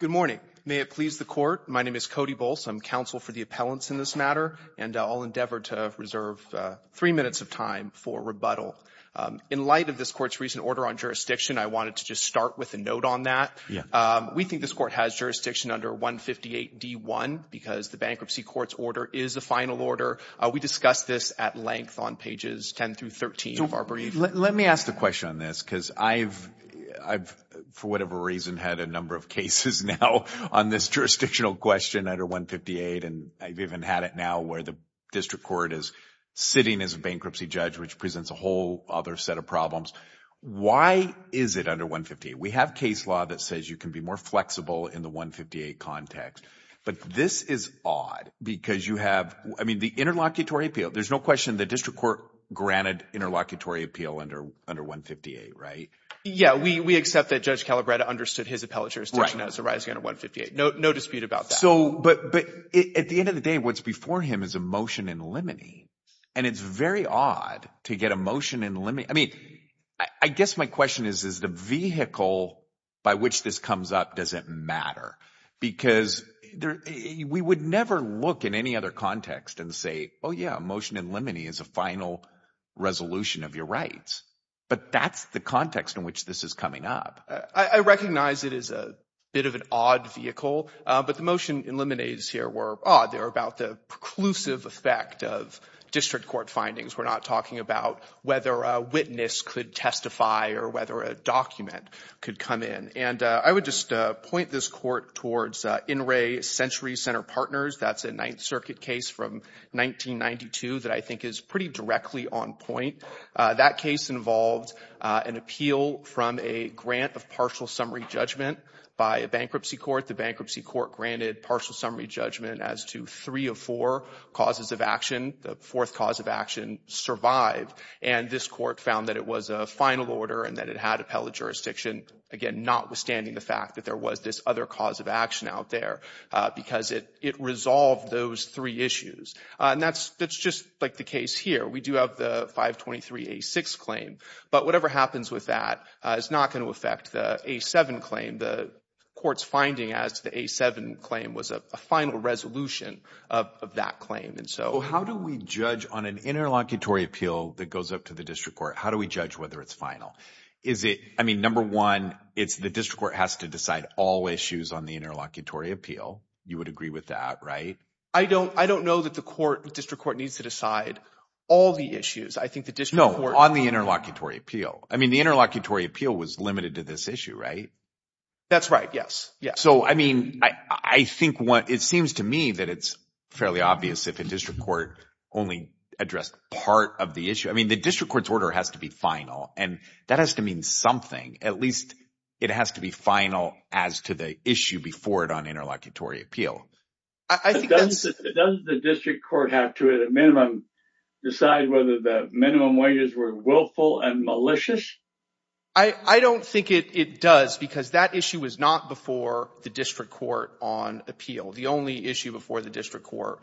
Good morning. May it please the court. My name is Cody Bolts. I'm counsel for the appellants in this matter, and I'll endeavor to reserve three minutes of time for rebuttal. In light of this court's recent order on jurisdiction, I wanted to just start with a note on that. We think this court has jurisdiction under 158D1 because the bankruptcy court's order is a final order. We discussed this at length on pages 10 through 13 of our brief. Let me ask the question on this because I've, for whatever reason, had a number of cases now on this jurisdictional question under 158, and I've even had it now where the district court is sitting as a bankruptcy judge, which presents a whole other set of problems. Why is it under 158? We have case law that says you can be more flexible in the 158 context, but this is odd because you have, I mean, the interlocutory appeal, there's no question the district court granted interlocutory appeal under 158, right? Yeah, we accept that Judge Calabretta understood his appellatures to know it's arising under 158. No dispute about that. But at the end of the day, what's before him is a motion in limine, and it's very odd to get a motion in limine. I mean, I guess my question is, is the vehicle by which this comes up, does it matter? Because we would never look in any other context and say, oh yeah, a motion in limine is a final resolution of your rights. But that's the context in which this is coming up. I recognize it is a bit of an odd vehicle, but the motion in limine here were odd. They were about the preclusive effect of district court findings. We're not talking about whether a witness could testify or whether a document could come in. And I would just point this court towards In Re, Century Center Partners. That's a Ninth Circuit case from 1992 that I think is pretty directly on point. That case involved an appeal from a grant of partial summary judgment by a bankruptcy court. The bankruptcy court granted partial summary judgment as to three of four causes of action. The fourth cause of action survived. And this court found that it was a final order and that it had appellate jurisdiction, again, notwithstanding the fact that there was this other cause of action out there, because it resolved those three issues. And that's just like the case here. We do have the 523A6 claim. But whatever happens with that is not going to affect the A7 claim. The court's finding as to the A7 claim was a final resolution of that claim. And so how do we judge on an interlocutory appeal that goes up to the district court? How do we judge whether it's final? Is it, I mean, number one, it's the district court has to decide all issues on the interlocutory appeal. You would agree with that, right? I don't know that the court, district court needs to decide all the issues. I think the district court... No, on the interlocutory appeal. I mean, the interlocutory appeal was limited to this issue, right? That's right. Yes. Yes. So, I mean, I think what it seems to me that it's fairly obvious if a district court only addressed part of the issue. I mean, the district court's order has to be final and that has to mean something. At least it has to be final as to the issue before it on interlocutory appeal. I think that's... But doesn't the district court have to at a minimum decide whether the minimum wages were willful and malicious? I don't think it does because that issue was not before the district court on appeal. The only issue before the district court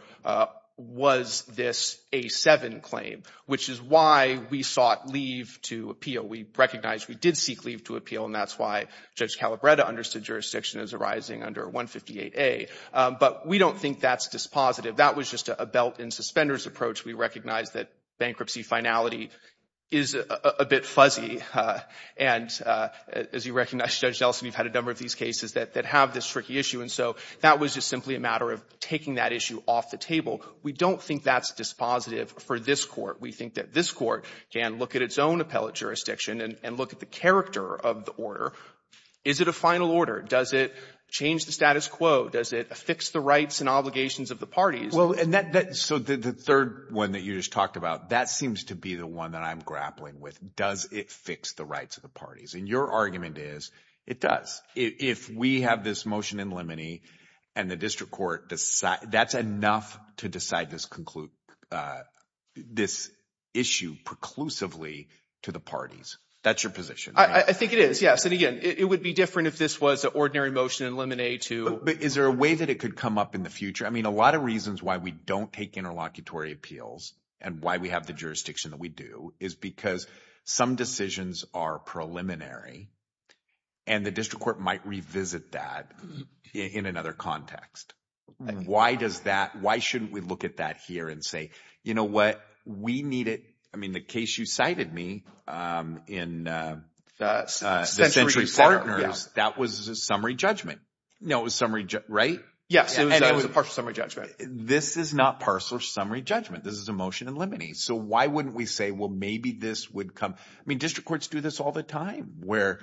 was this A7 claim, which is why we sought leave to appeal. We recognize we did seek leave to appeal and that's why Judge Calabretta understood jurisdiction as arising under 158A. But we don't think that's dispositive. That was just a belt and suspenders approach. We recognize that bankruptcy finality is a bit fuzzy and as you recognize, Judge Nelson, we've had a number of these cases that have this tricky issue and so that was just simply a matter of taking that issue off the table. We don't think that's dispositive for this court. We think that this court can look at its own appellate jurisdiction and look at the character of the order. Is it a final order? Does it change the status quo? Does it fix the rights and obligations of the parties? Well, and that... So the third one that you just talked about, that seems to be the one that I'm grappling with. Does it fix the rights of the parties? And your argument is it does. If we have this motion in limine and the district court, that's enough to decide this issue preclusively to the parties. That's your position. I think it is, yes. And again, it would be different if this was an ordinary motion in limine to... But is there a way that it could come up in the future? I mean, a lot of reasons why we don't take interlocutory appeals and why we have the jurisdiction that we do is because some decisions are preliminary and the district court might revisit that in another context. Why does that... Why shouldn't we look at that here and say, you know what? We need it. I mean, the case you cited me in the Century Partners, that was a summary judgment. No, it was summary, right? Yes, it was a partial summary judgment. This is not partial summary judgment. This is a motion in limine. So why wouldn't we say, well, maybe this would come... I mean, district courts do this all the time where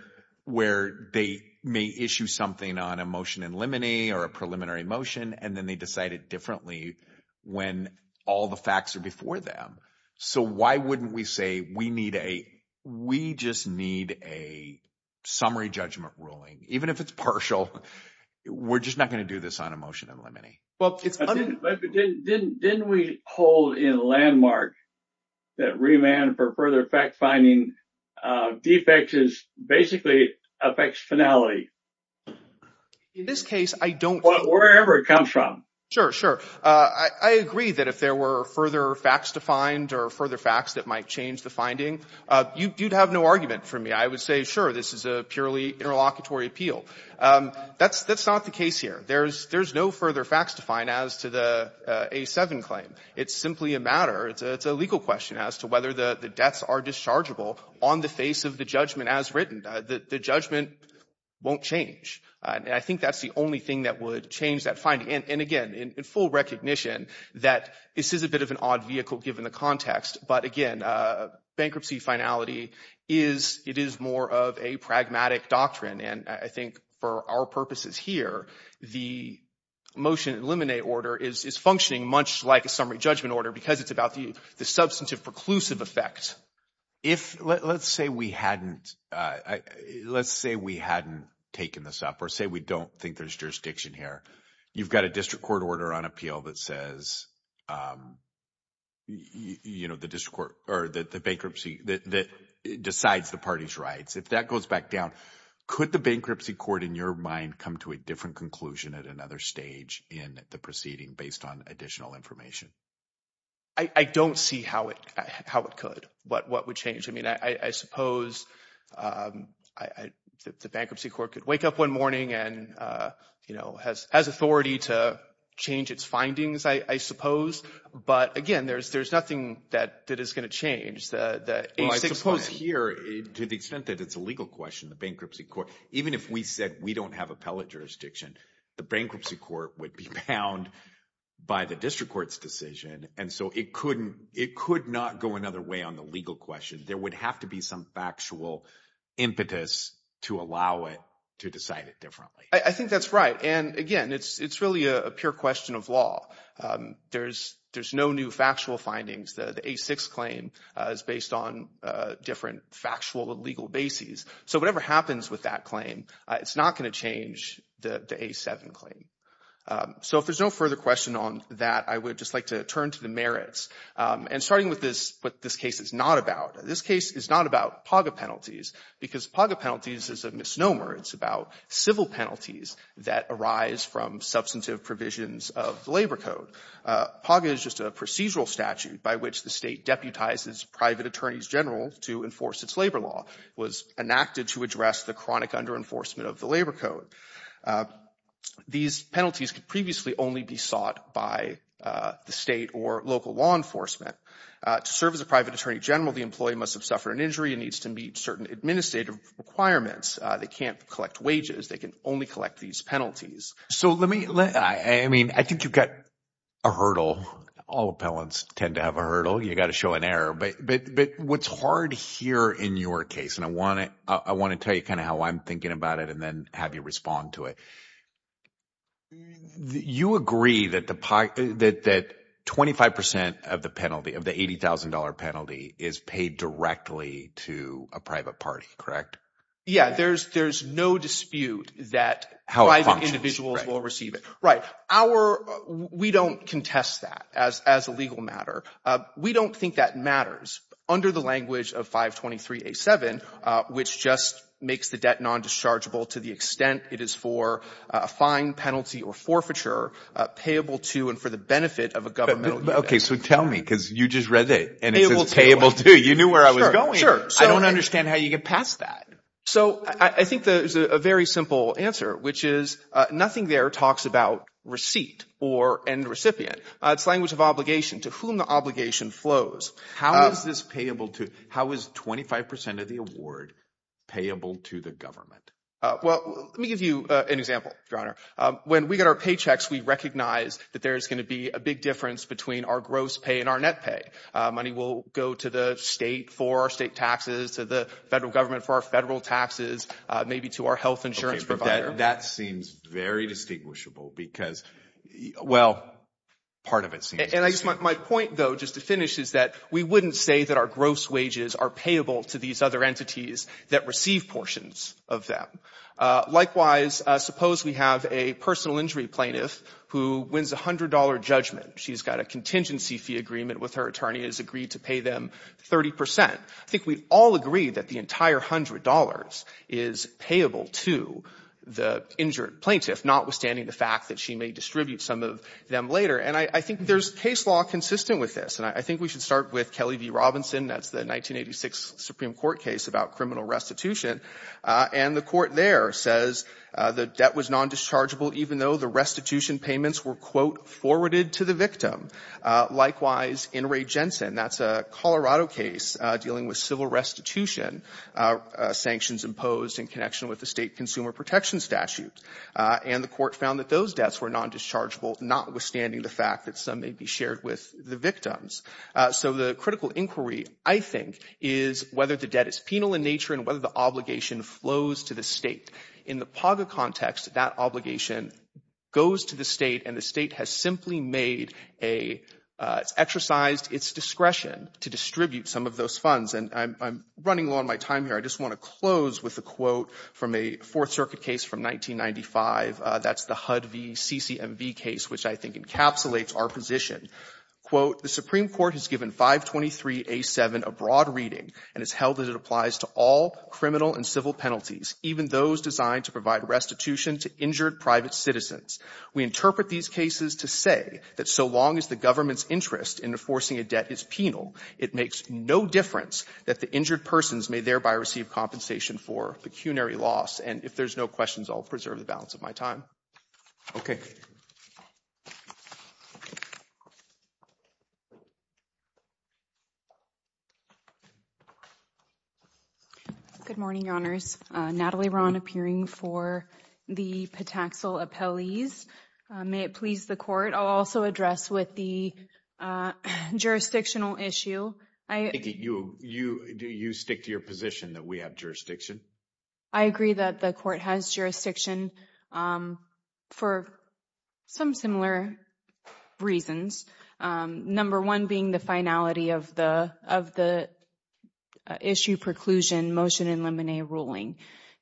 they may issue something on a motion in limine or a preliminary motion, and then they decide it differently when all the facts are before them. So why wouldn't we say, we just need a summary judgment ruling? Even if it's partial, we're just not going to do this on a motion in limine. But didn't we hold in landmark that remand for further fact-finding defects is basically affects finality? In this case, I don't... Well, wherever it comes from. Sure, sure. I agree that if there were further facts to find or further facts that might change the finding, you'd have no argument for me. I would say, sure, this is a purely interlocutory appeal. That's not the case here. There's no further facts to find as to the A7 claim. It's simply a matter, it's a legal question as to whether the debts are dischargeable on the face of the judgment as written. The judgment won't change. And I think that's the only thing that would change that finding. And again, in full recognition that this is a bit of an odd vehicle given the context, but again, bankruptcy finality is, it is more of a pragmatic doctrine. And I think for our purposes here, the motion in limine order is functioning much like a summary judgment order because it's about the substantive preclusive effect. If, let's say we hadn't, let's say we hadn't taken this up or say we don't think there's jurisdiction here. You've got a district court order on appeal that says, you know, the district bankruptcy that decides the party's rights. If that goes back down, could the bankruptcy court in your mind come to a different conclusion at another stage in the proceeding based on additional information? I don't see how it could, what would change. I mean, I suppose the bankruptcy court could wake up one morning and, you know, has authority to change its findings, I suppose. But again, there's nothing that is going to change. Well, I suppose here, to the extent that it's a legal question, the bankruptcy court, even if we said we don't have appellate jurisdiction, the bankruptcy court would be bound by the district court's decision. And so it could not go another way on the legal question. There would have to be some factual impetus to allow it to decide it differently. I think that's right. And again, it's really a pure question of law. There's no new factual findings. The A-6 claim is based on different factual and legal bases. So whatever happens with that claim, it's not going to change the A-7 claim. So if there's no further question on that, I would just like to turn to the merits. And starting with what this case is not about. This case is not about PAGA penalties, because PAGA penalties is a misnomer. It's about civil penalties that arise from substantive provisions of the Labor Code. PAGA is just a procedural statute by which the State deputizes private attorneys general to enforce its labor law. It was enacted to address the chronic under-enforcement of the Labor Code. These penalties could previously only be sought by the State or local law enforcement. To serve as a private attorney general, the employee must have suffered an injury and needs to meet certain administrative requirements. They can't collect wages. They can only collect these penalties. So let me, I mean, I think you've got a hurdle. All appellants tend to have a hurdle. You got to show an error. But what's hard here in your case, and I want to tell you kind of how I'm thinking about it and then have you respond to it. You agree that 25 percent of the penalty, of the $80,000 penalty, is paid directly to a private party, correct? Yeah, there's no dispute that private individuals will receive it. We don't contest that as a legal matter. We don't think that matters under the language of 523A7, which just makes the debt non-dischargeable to the extent it is for a fine, penalty, or forfeiture, payable to and for the benefit of a governmental unit. Okay, so tell me, because you just read it, and it says payable to. You knew where I was going. I don't understand how you get past that. So I think there's a very simple answer, which is nothing there talks about receipt or end recipient. It's language of obligation, to whom the obligation flows. How is this payable to, how is 25 percent of the award payable to the government? Well, let me give you an example, Your Honor. When we get our paychecks, we recognize that there's going to be a big difference between our gross pay and our net pay. Money will go to the state for our state taxes, to the federal government for our federal taxes, maybe to our health insurance provider. That seems very distinguishable because, well, part of it seems distinguishable. My point, though, just to finish, is that we wouldn't say that our gross wages are payable to these other entities that receive portions of them. Likewise, suppose we have a personal agency fee agreement with her attorney has agreed to pay them 30 percent. I think we all agree that the entire $100 is payable to the injured plaintiff, notwithstanding the fact that she may distribute some of them later. And I think there's case law consistent with this. And I think we should start with Kelly v. Robinson. That's the 1986 Supreme Court case about criminal restitution. And the court there says the debt was non-dischargeable even though the restitution payments were, quote, forwarded to the victim. Likewise, in Ray Jensen, that's a Colorado case dealing with civil restitution sanctions imposed in connection with the state consumer protection statute. And the court found that those debts were non-dischargeable, notwithstanding the fact that some may be shared with the victims. So the critical inquiry, I think, is whether the debt is penal in nature and whether the flows to the state. In the PAGA context, that obligation goes to the state, and the state has simply made a — it's exercised its discretion to distribute some of those funds. And I'm running low on my time here. I just want to close with a quote from a Fourth Circuit case from 1995. That's the HUD v. CCMV case, which I think encapsulates our position. Quote, the Supreme Court has given 523A7 a broad reading and has held that it applies to all criminal and civil penalties, even those designed to provide restitution to injured private citizens. We interpret these cases to say that so long as the government's interest in enforcing a debt is penal, it makes no difference that the injured persons may thereby receive compensation for pecuniary loss. And if there's no questions, I'll preserve the balance of my time. Okay. Good morning, Your Honors. Natalie Rahn, appearing for the Pataxil appellees. May it please the Court, I'll also address with the jurisdictional issue. Do you stick to your position that we have jurisdiction? I agree that the Court has jurisdiction for some similar reasons. Number one being the finality of the issue preclusion motion in Lemonnier ruling.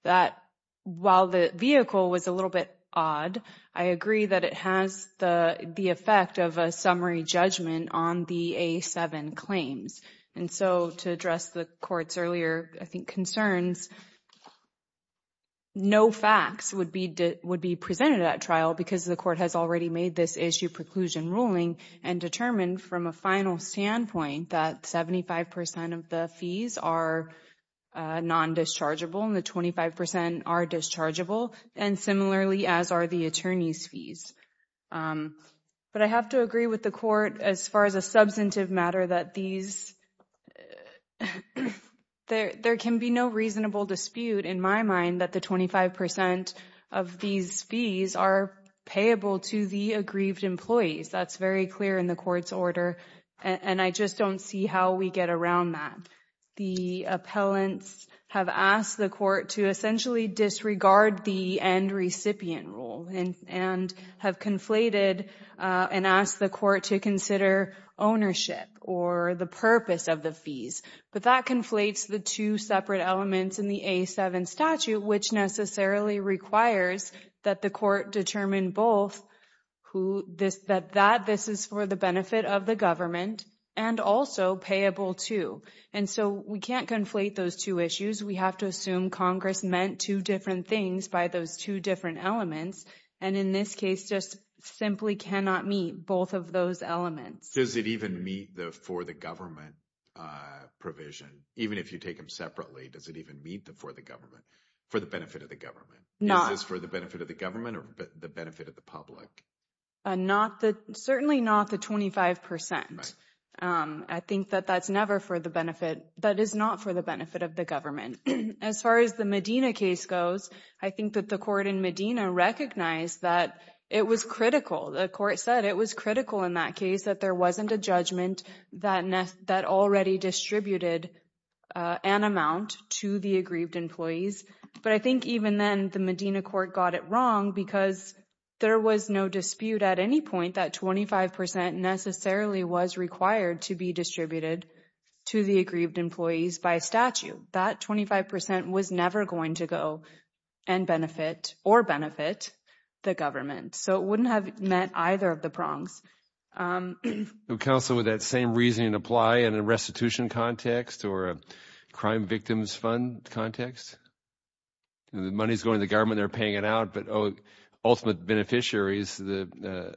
That while the vehicle was a little bit odd, I agree that it has the effect of a summary judgment on the A7 claims. And so to address the Court's earlier, I think, concerns, no facts would be presented at trial because the Court has already made this issue preclusion ruling and determined from a final standpoint that 75% of the fees are non-dischargeable and the 25% are dischargeable. And similarly, as are the attorney's fees. But I have to agree with the Court as far as substantive matter that there can be no reasonable dispute in my mind that the 25% of these fees are payable to the aggrieved employees. That's very clear in the Court's order and I just don't see how we get around that. The appellants have asked the Court to essentially or the purpose of the fees. But that conflates the two separate elements in the A7 statute, which necessarily requires that the Court determine both that this is for the benefit of the government and also payable to. And so we can't conflate those two issues. We have to assume Congress meant two different things by those two different elements. And in this case, just simply cannot meet both of those elements. Does it even meet the for the government provision? Even if you take them separately, does it even meet the for the government, for the benefit of the government? Is this for the benefit of the government or the benefit of the public? Certainly not the 25%. I think that that's never for the benefit. That is not for the benefit of the government. As far as the Medina case goes, I think that the Medina recognized that it was critical. The Court said it was critical in that case that there wasn't a judgment that already distributed an amount to the aggrieved employees. But I think even then the Medina Court got it wrong because there was no dispute at any point that 25% necessarily was required to be distributed to the aggrieved employees by statute. That 25% was never going to go and benefit or benefit the government. So it wouldn't have met either of the prongs. Counsel, would that same reasoning apply in a restitution context or a crime victims fund context? The money's going to the government, they're paying it out, but ultimate beneficiary is the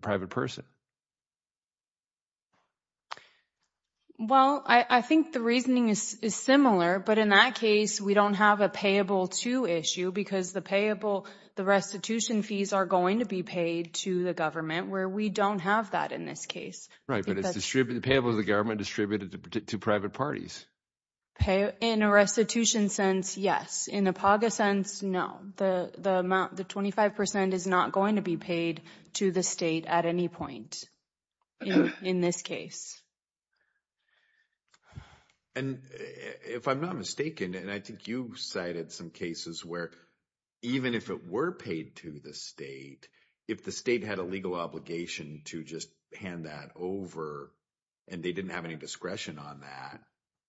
private person. Well, I think the reasoning is similar, but in that case we don't have a payable to issue because the restitution fees are going to be paid to the government where we don't have that in this case. Right, but the payable is the government distributed to private parties. In a restitution sense, yes. In a PAGA sense, no. The amount, the 25% is not going to be paid to the state at any point in this case. And if I'm not mistaken, and I think you cited some cases where even if it were paid to the state, if the state had a legal obligation to just hand that over and they didn't have any discretion on that,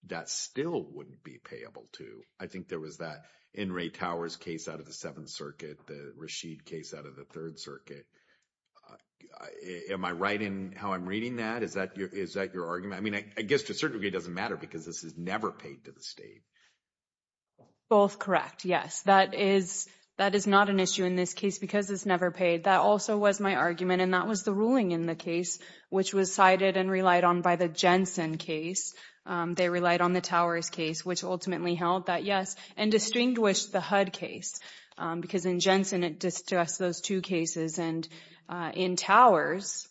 that still wouldn't be payable to. I think there was that N. Ray Towers case out of the Seventh Circuit, the Rashid case out of the Third Circuit. Am I right in how I'm reading that? Is that your argument? I mean, I guess to a certain degree it doesn't matter because this is never paid to the state. Both correct, yes. That is not an issue in this case because it's never paid. That also was my argument and that was the ruling in the case, which was cited and relied on by the Jensen case. They relied on the Towers case, which ultimately held that yes, and distinguished the HUD case because in Jensen it distressed those two cases. And in Towers,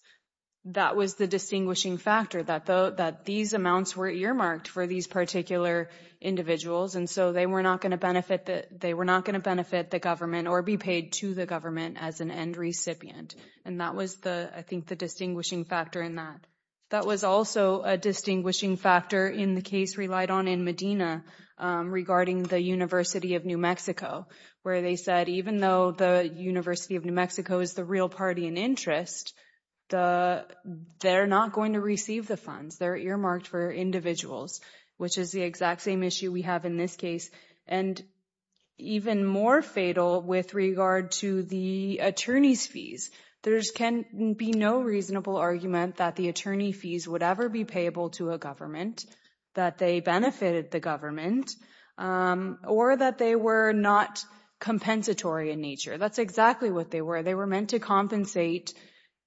that was the distinguishing factor that these amounts were earmarked for these particular individuals and so they were not going to benefit the government or be paid to the government as an end recipient. And that was, I think, the distinguishing factor in that. That was also a distinguishing factor in the case relied on in Medina regarding the University of New Mexico, where they said even though the University of New Mexico is the real party in interest, they're not going to receive the funds. They're earmarked for individuals, which is the exact same issue we have in this case. And even more fatal with regard to the attorney's fees, there can be no reasonable argument that the attorney fees would ever be payable to a government, that they benefited the government, or that they were not compensatory in nature. That's exactly what they were. They were meant to compensate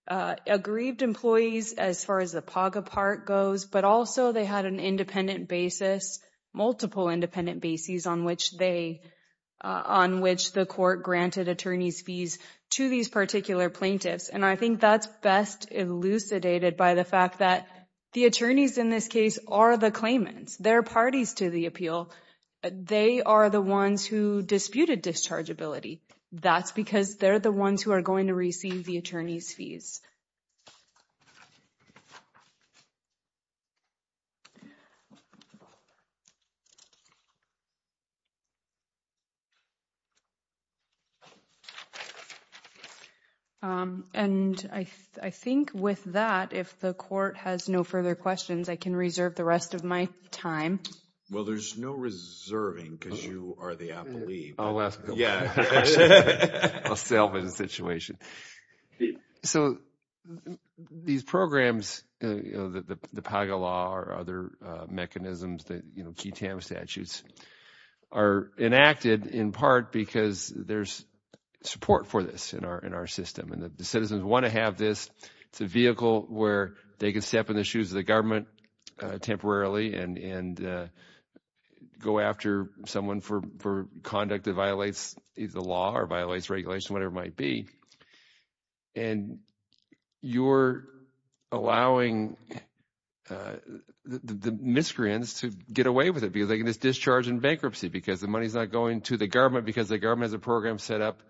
aggrieved employees as far as the PAGA part goes, but also they had an independent basis, multiple independent bases on which the court granted attorney's fees to these particular plaintiffs. And I think that's best elucidated by the fact that the attorneys in this case are the claimants. They're parties to the appeal. They are the ones who disputed dischargeability. That's because they're the ones who are going to receive the attorney's fees. And I think with that, if the court has no further questions, I can reserve the rest of my time. Well, there's no reserving because you are the appellee. I'll ask a question. I'll sell the situation. So these programs, the PAGA law or other mechanisms that, you know, key TAM statutes, are enacted in part because there's support for this in our system. And the citizens want to have this. It's a vehicle where they can step in the shoes of the government temporarily and go after someone for conduct that violates either the law or violates regulation, whatever it might be. And you're allowing the miscreants to get away with it because they can just discharge in bankruptcy because the money's not going to the government because the government has a program set up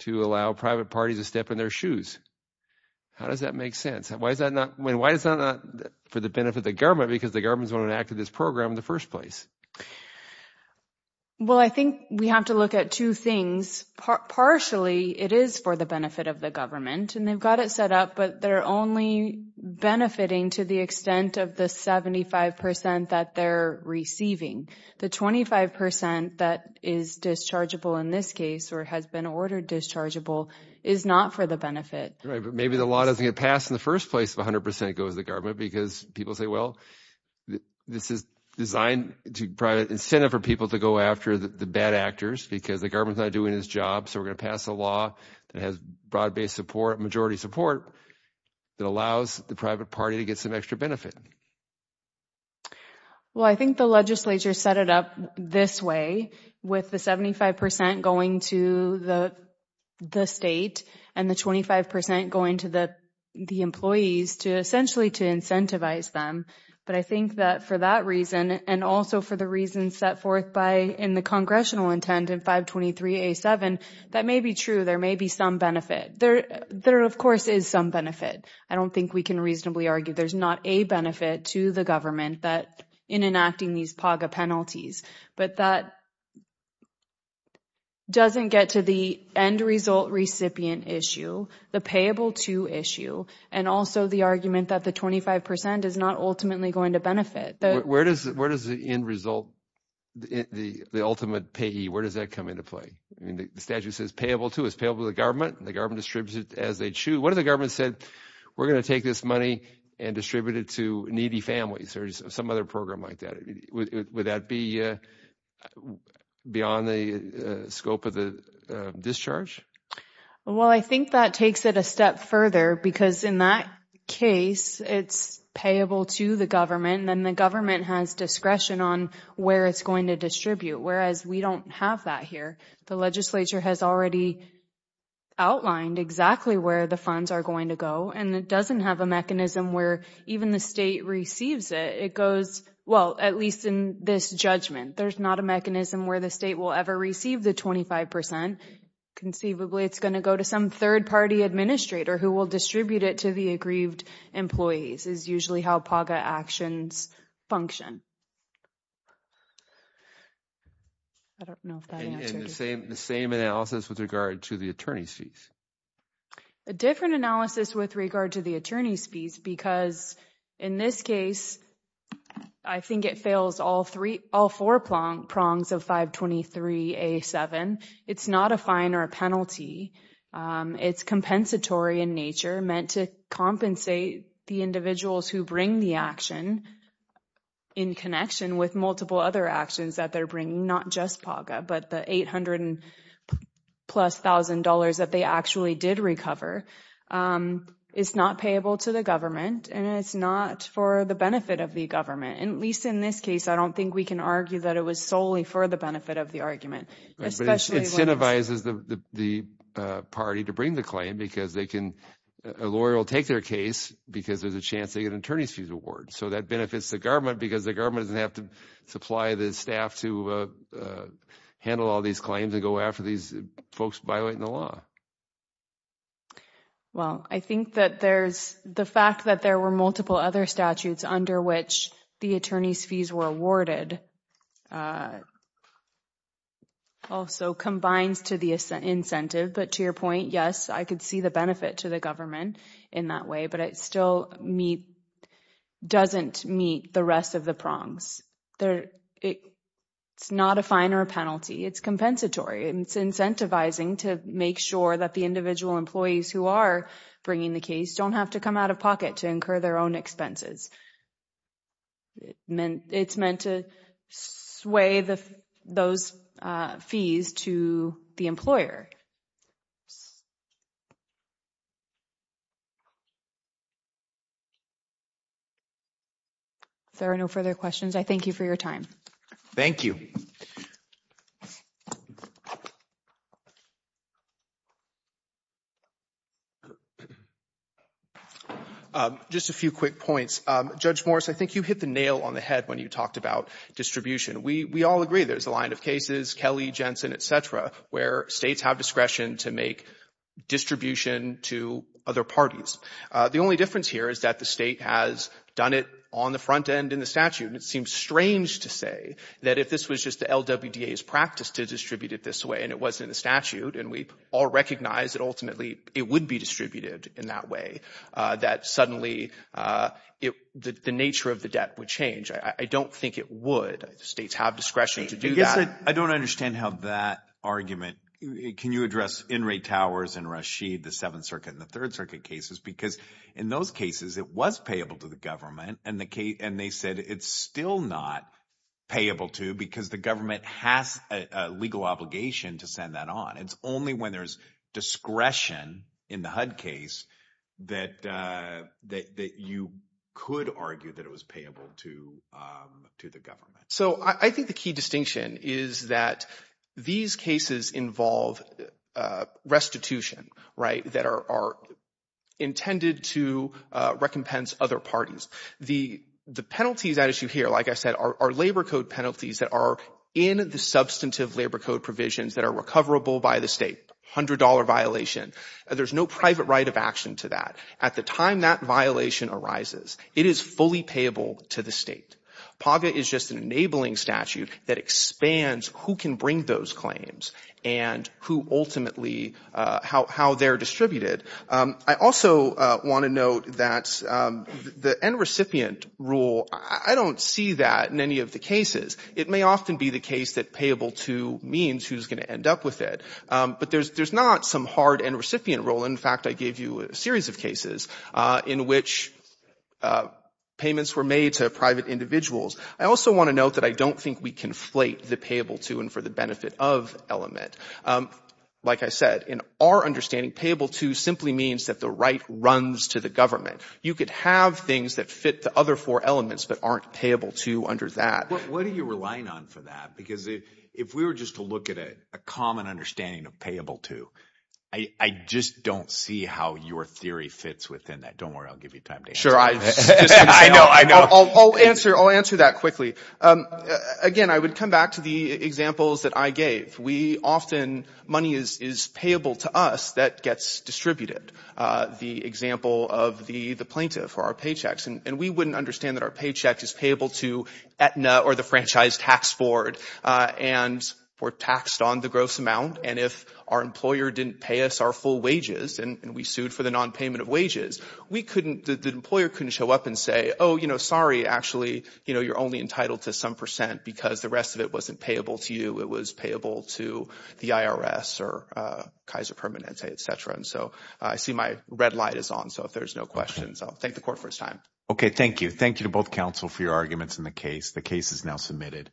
to allow private parties to step in their shoes. How does that make sense? Why is that not for the benefit of the government? Because the government's going to enact this program in the first place. Well, I think we have to look at two things. Partially, it is for the benefit of the government, and they've got it set up, but they're only benefiting to the extent of the 75 percent that they're receiving. The 25 percent that is dischargeable in this case or has been ordered dischargeable is not for the benefit. Maybe the law doesn't get passed in the first place if 100 percent goes to the government because people say, well, this is designed to provide an incentive for people to go after the bad actors because the government's not doing its job. So we're going to pass a law that has broad-based support, majority support, that allows the private party to get some extra benefit. Well, I think the legislature set it up this way with the 75 percent going to the state and the 25 percent going to the employees essentially to incentivize them. But I think that for that reason and also for the reasons set forth in the congressional intent in 523A7, that may be true. There may be some benefit. There, of course, is some benefit. I don't think we can reasonably argue there's not a benefit to the government in enacting PAGA penalties. But that doesn't get to the end result recipient issue, the payable to issue, and also the argument that the 25 percent is not ultimately going to benefit. Where does the end result, the ultimate payee, where does that come into play? I mean, the statute says payable to is payable to the government. The government distributes it as they choose. What if the government said, we're going to take this money and distribute it to needy families or some other program like that? Would that be beyond the scope of the discharge? Well, I think that takes it a step further because in that case, it's payable to the government and the government has discretion on where it's going to distribute, whereas we don't have that here. The legislature has already outlined exactly where the funds are going to go, and it doesn't have a mechanism where even the state receives it. It goes, well, at least in this judgment, there's not a mechanism where the state will ever receive the 25 percent. Conceivably, it's going to go to some third-party administrator who will distribute it to the aggrieved employees is usually how PAGA actions function. I don't know if that answers your question. The same analysis with regard to the attorney's fees? A different analysis with regard to the attorney's fees because in this case, I think it fails all four prongs of 523A7. It's not a fine or a penalty. It's compensatory in nature, meant to compensate the individuals who bring the action in connection with multiple other actions that they're bringing, not just PAGA, but the $800 and plus thousand dollars that they actually did recover. It's not payable to the government, and it's not for the benefit of the government. At least in this case, I don't think we can argue that it was solely for the benefit of the argument. It incentivizes the party to bring the claim because a lawyer will take their case because there's a chance they get an attorney's fees award. That benefits the government because the government doesn't have to supply the staff to handle all these claims and go after these folks violating the law. Well, I think that there's the fact that there were multiple other statutes under which the attorney's fees were awarded also combines to the incentive. But to your point, yes, I could see the benefit to the government in that way, but it still doesn't meet the rest of the It's not a fine or a penalty. It's compensatory. It's incentivizing to make sure that the individual employees who are bringing the case don't have to come out of pocket to incur their own expenses. It's meant to sway those fees to the employer. If there are no further questions, I thank you for your time. Thank you. Just a few quick points. Judge Morris, I think you hit the nail on the head when you talked about distribution. We all agree there's a line of cases, Kelly, Jensen, et cetera, where states have discretion to make distribution to other parties. The only difference here is that the state has done it on the front end in the statute. It seems strange to say that if this was just the LWDA's practice to distribute it this way and it wasn't a statute and we all recognize that ultimately it would be distributed in that way, that suddenly the nature of the debt would change. I don't think it would. States have discretion to do that. I guess I don't understand how that argument, can you address In re Towers and Rashid, the Seventh Circuit and the Third Circuit cases, because in those cases it was payable to the government and they said it's still not payable to because the government has a legal obligation to send that on. It's only when there's discretion in the HUD case that you could argue that it was payable to the government. I think the key distinction is that these cases involve restitution. That are intended to recompense other parties. The penalties at issue here, like I said, are labor code penalties that are in the substantive labor code provisions that are recoverable by the state, $100 violation. There's no private right of action to that. At the time that violation arises, it is fully payable to the state. PAGA is just an enabling that expands who can bring those claims and who ultimately, how they're distributed. I also want to note that the end recipient rule, I don't see that in any of the cases. It may often be the case that payable to means who's going to end up with it. But there's not some hard end recipient rule. In fact, I gave you a series of cases in which payments were made to private individuals. I also want to note that I don't think we conflate the payable to and for the benefit of element. Like I said, in our understanding, payable to simply means that the right runs to the government. You could have things that fit the other four elements that aren't payable to under that. What are you relying on for that? Because if we were just to look at a common understanding of payable to, I just don't see how your theory fits within that. Don't worry, I'll give you time to answer that. Sure. I'll answer that quickly. Again, I would come back to the examples that I gave. We often, money is payable to us that gets distributed. The example of the plaintiff or our paychecks. We wouldn't understand that our paycheck is payable to Aetna or the Franchise Tax Board. We're taxed on the gross amount. If our employer didn't pay us our full wages, and we sued for the non-payment of wages, the employer couldn't show up and say, oh, sorry, actually, you're only entitled to some percent because the rest of it wasn't payable to you. It was payable to the IRS or Kaiser Permanente, et cetera. I see my red light is on. If there's no questions, I'll thank the court for its time. Okay. Thank you. Thank you to both counsel for your arguments in the case. The case is now submitted.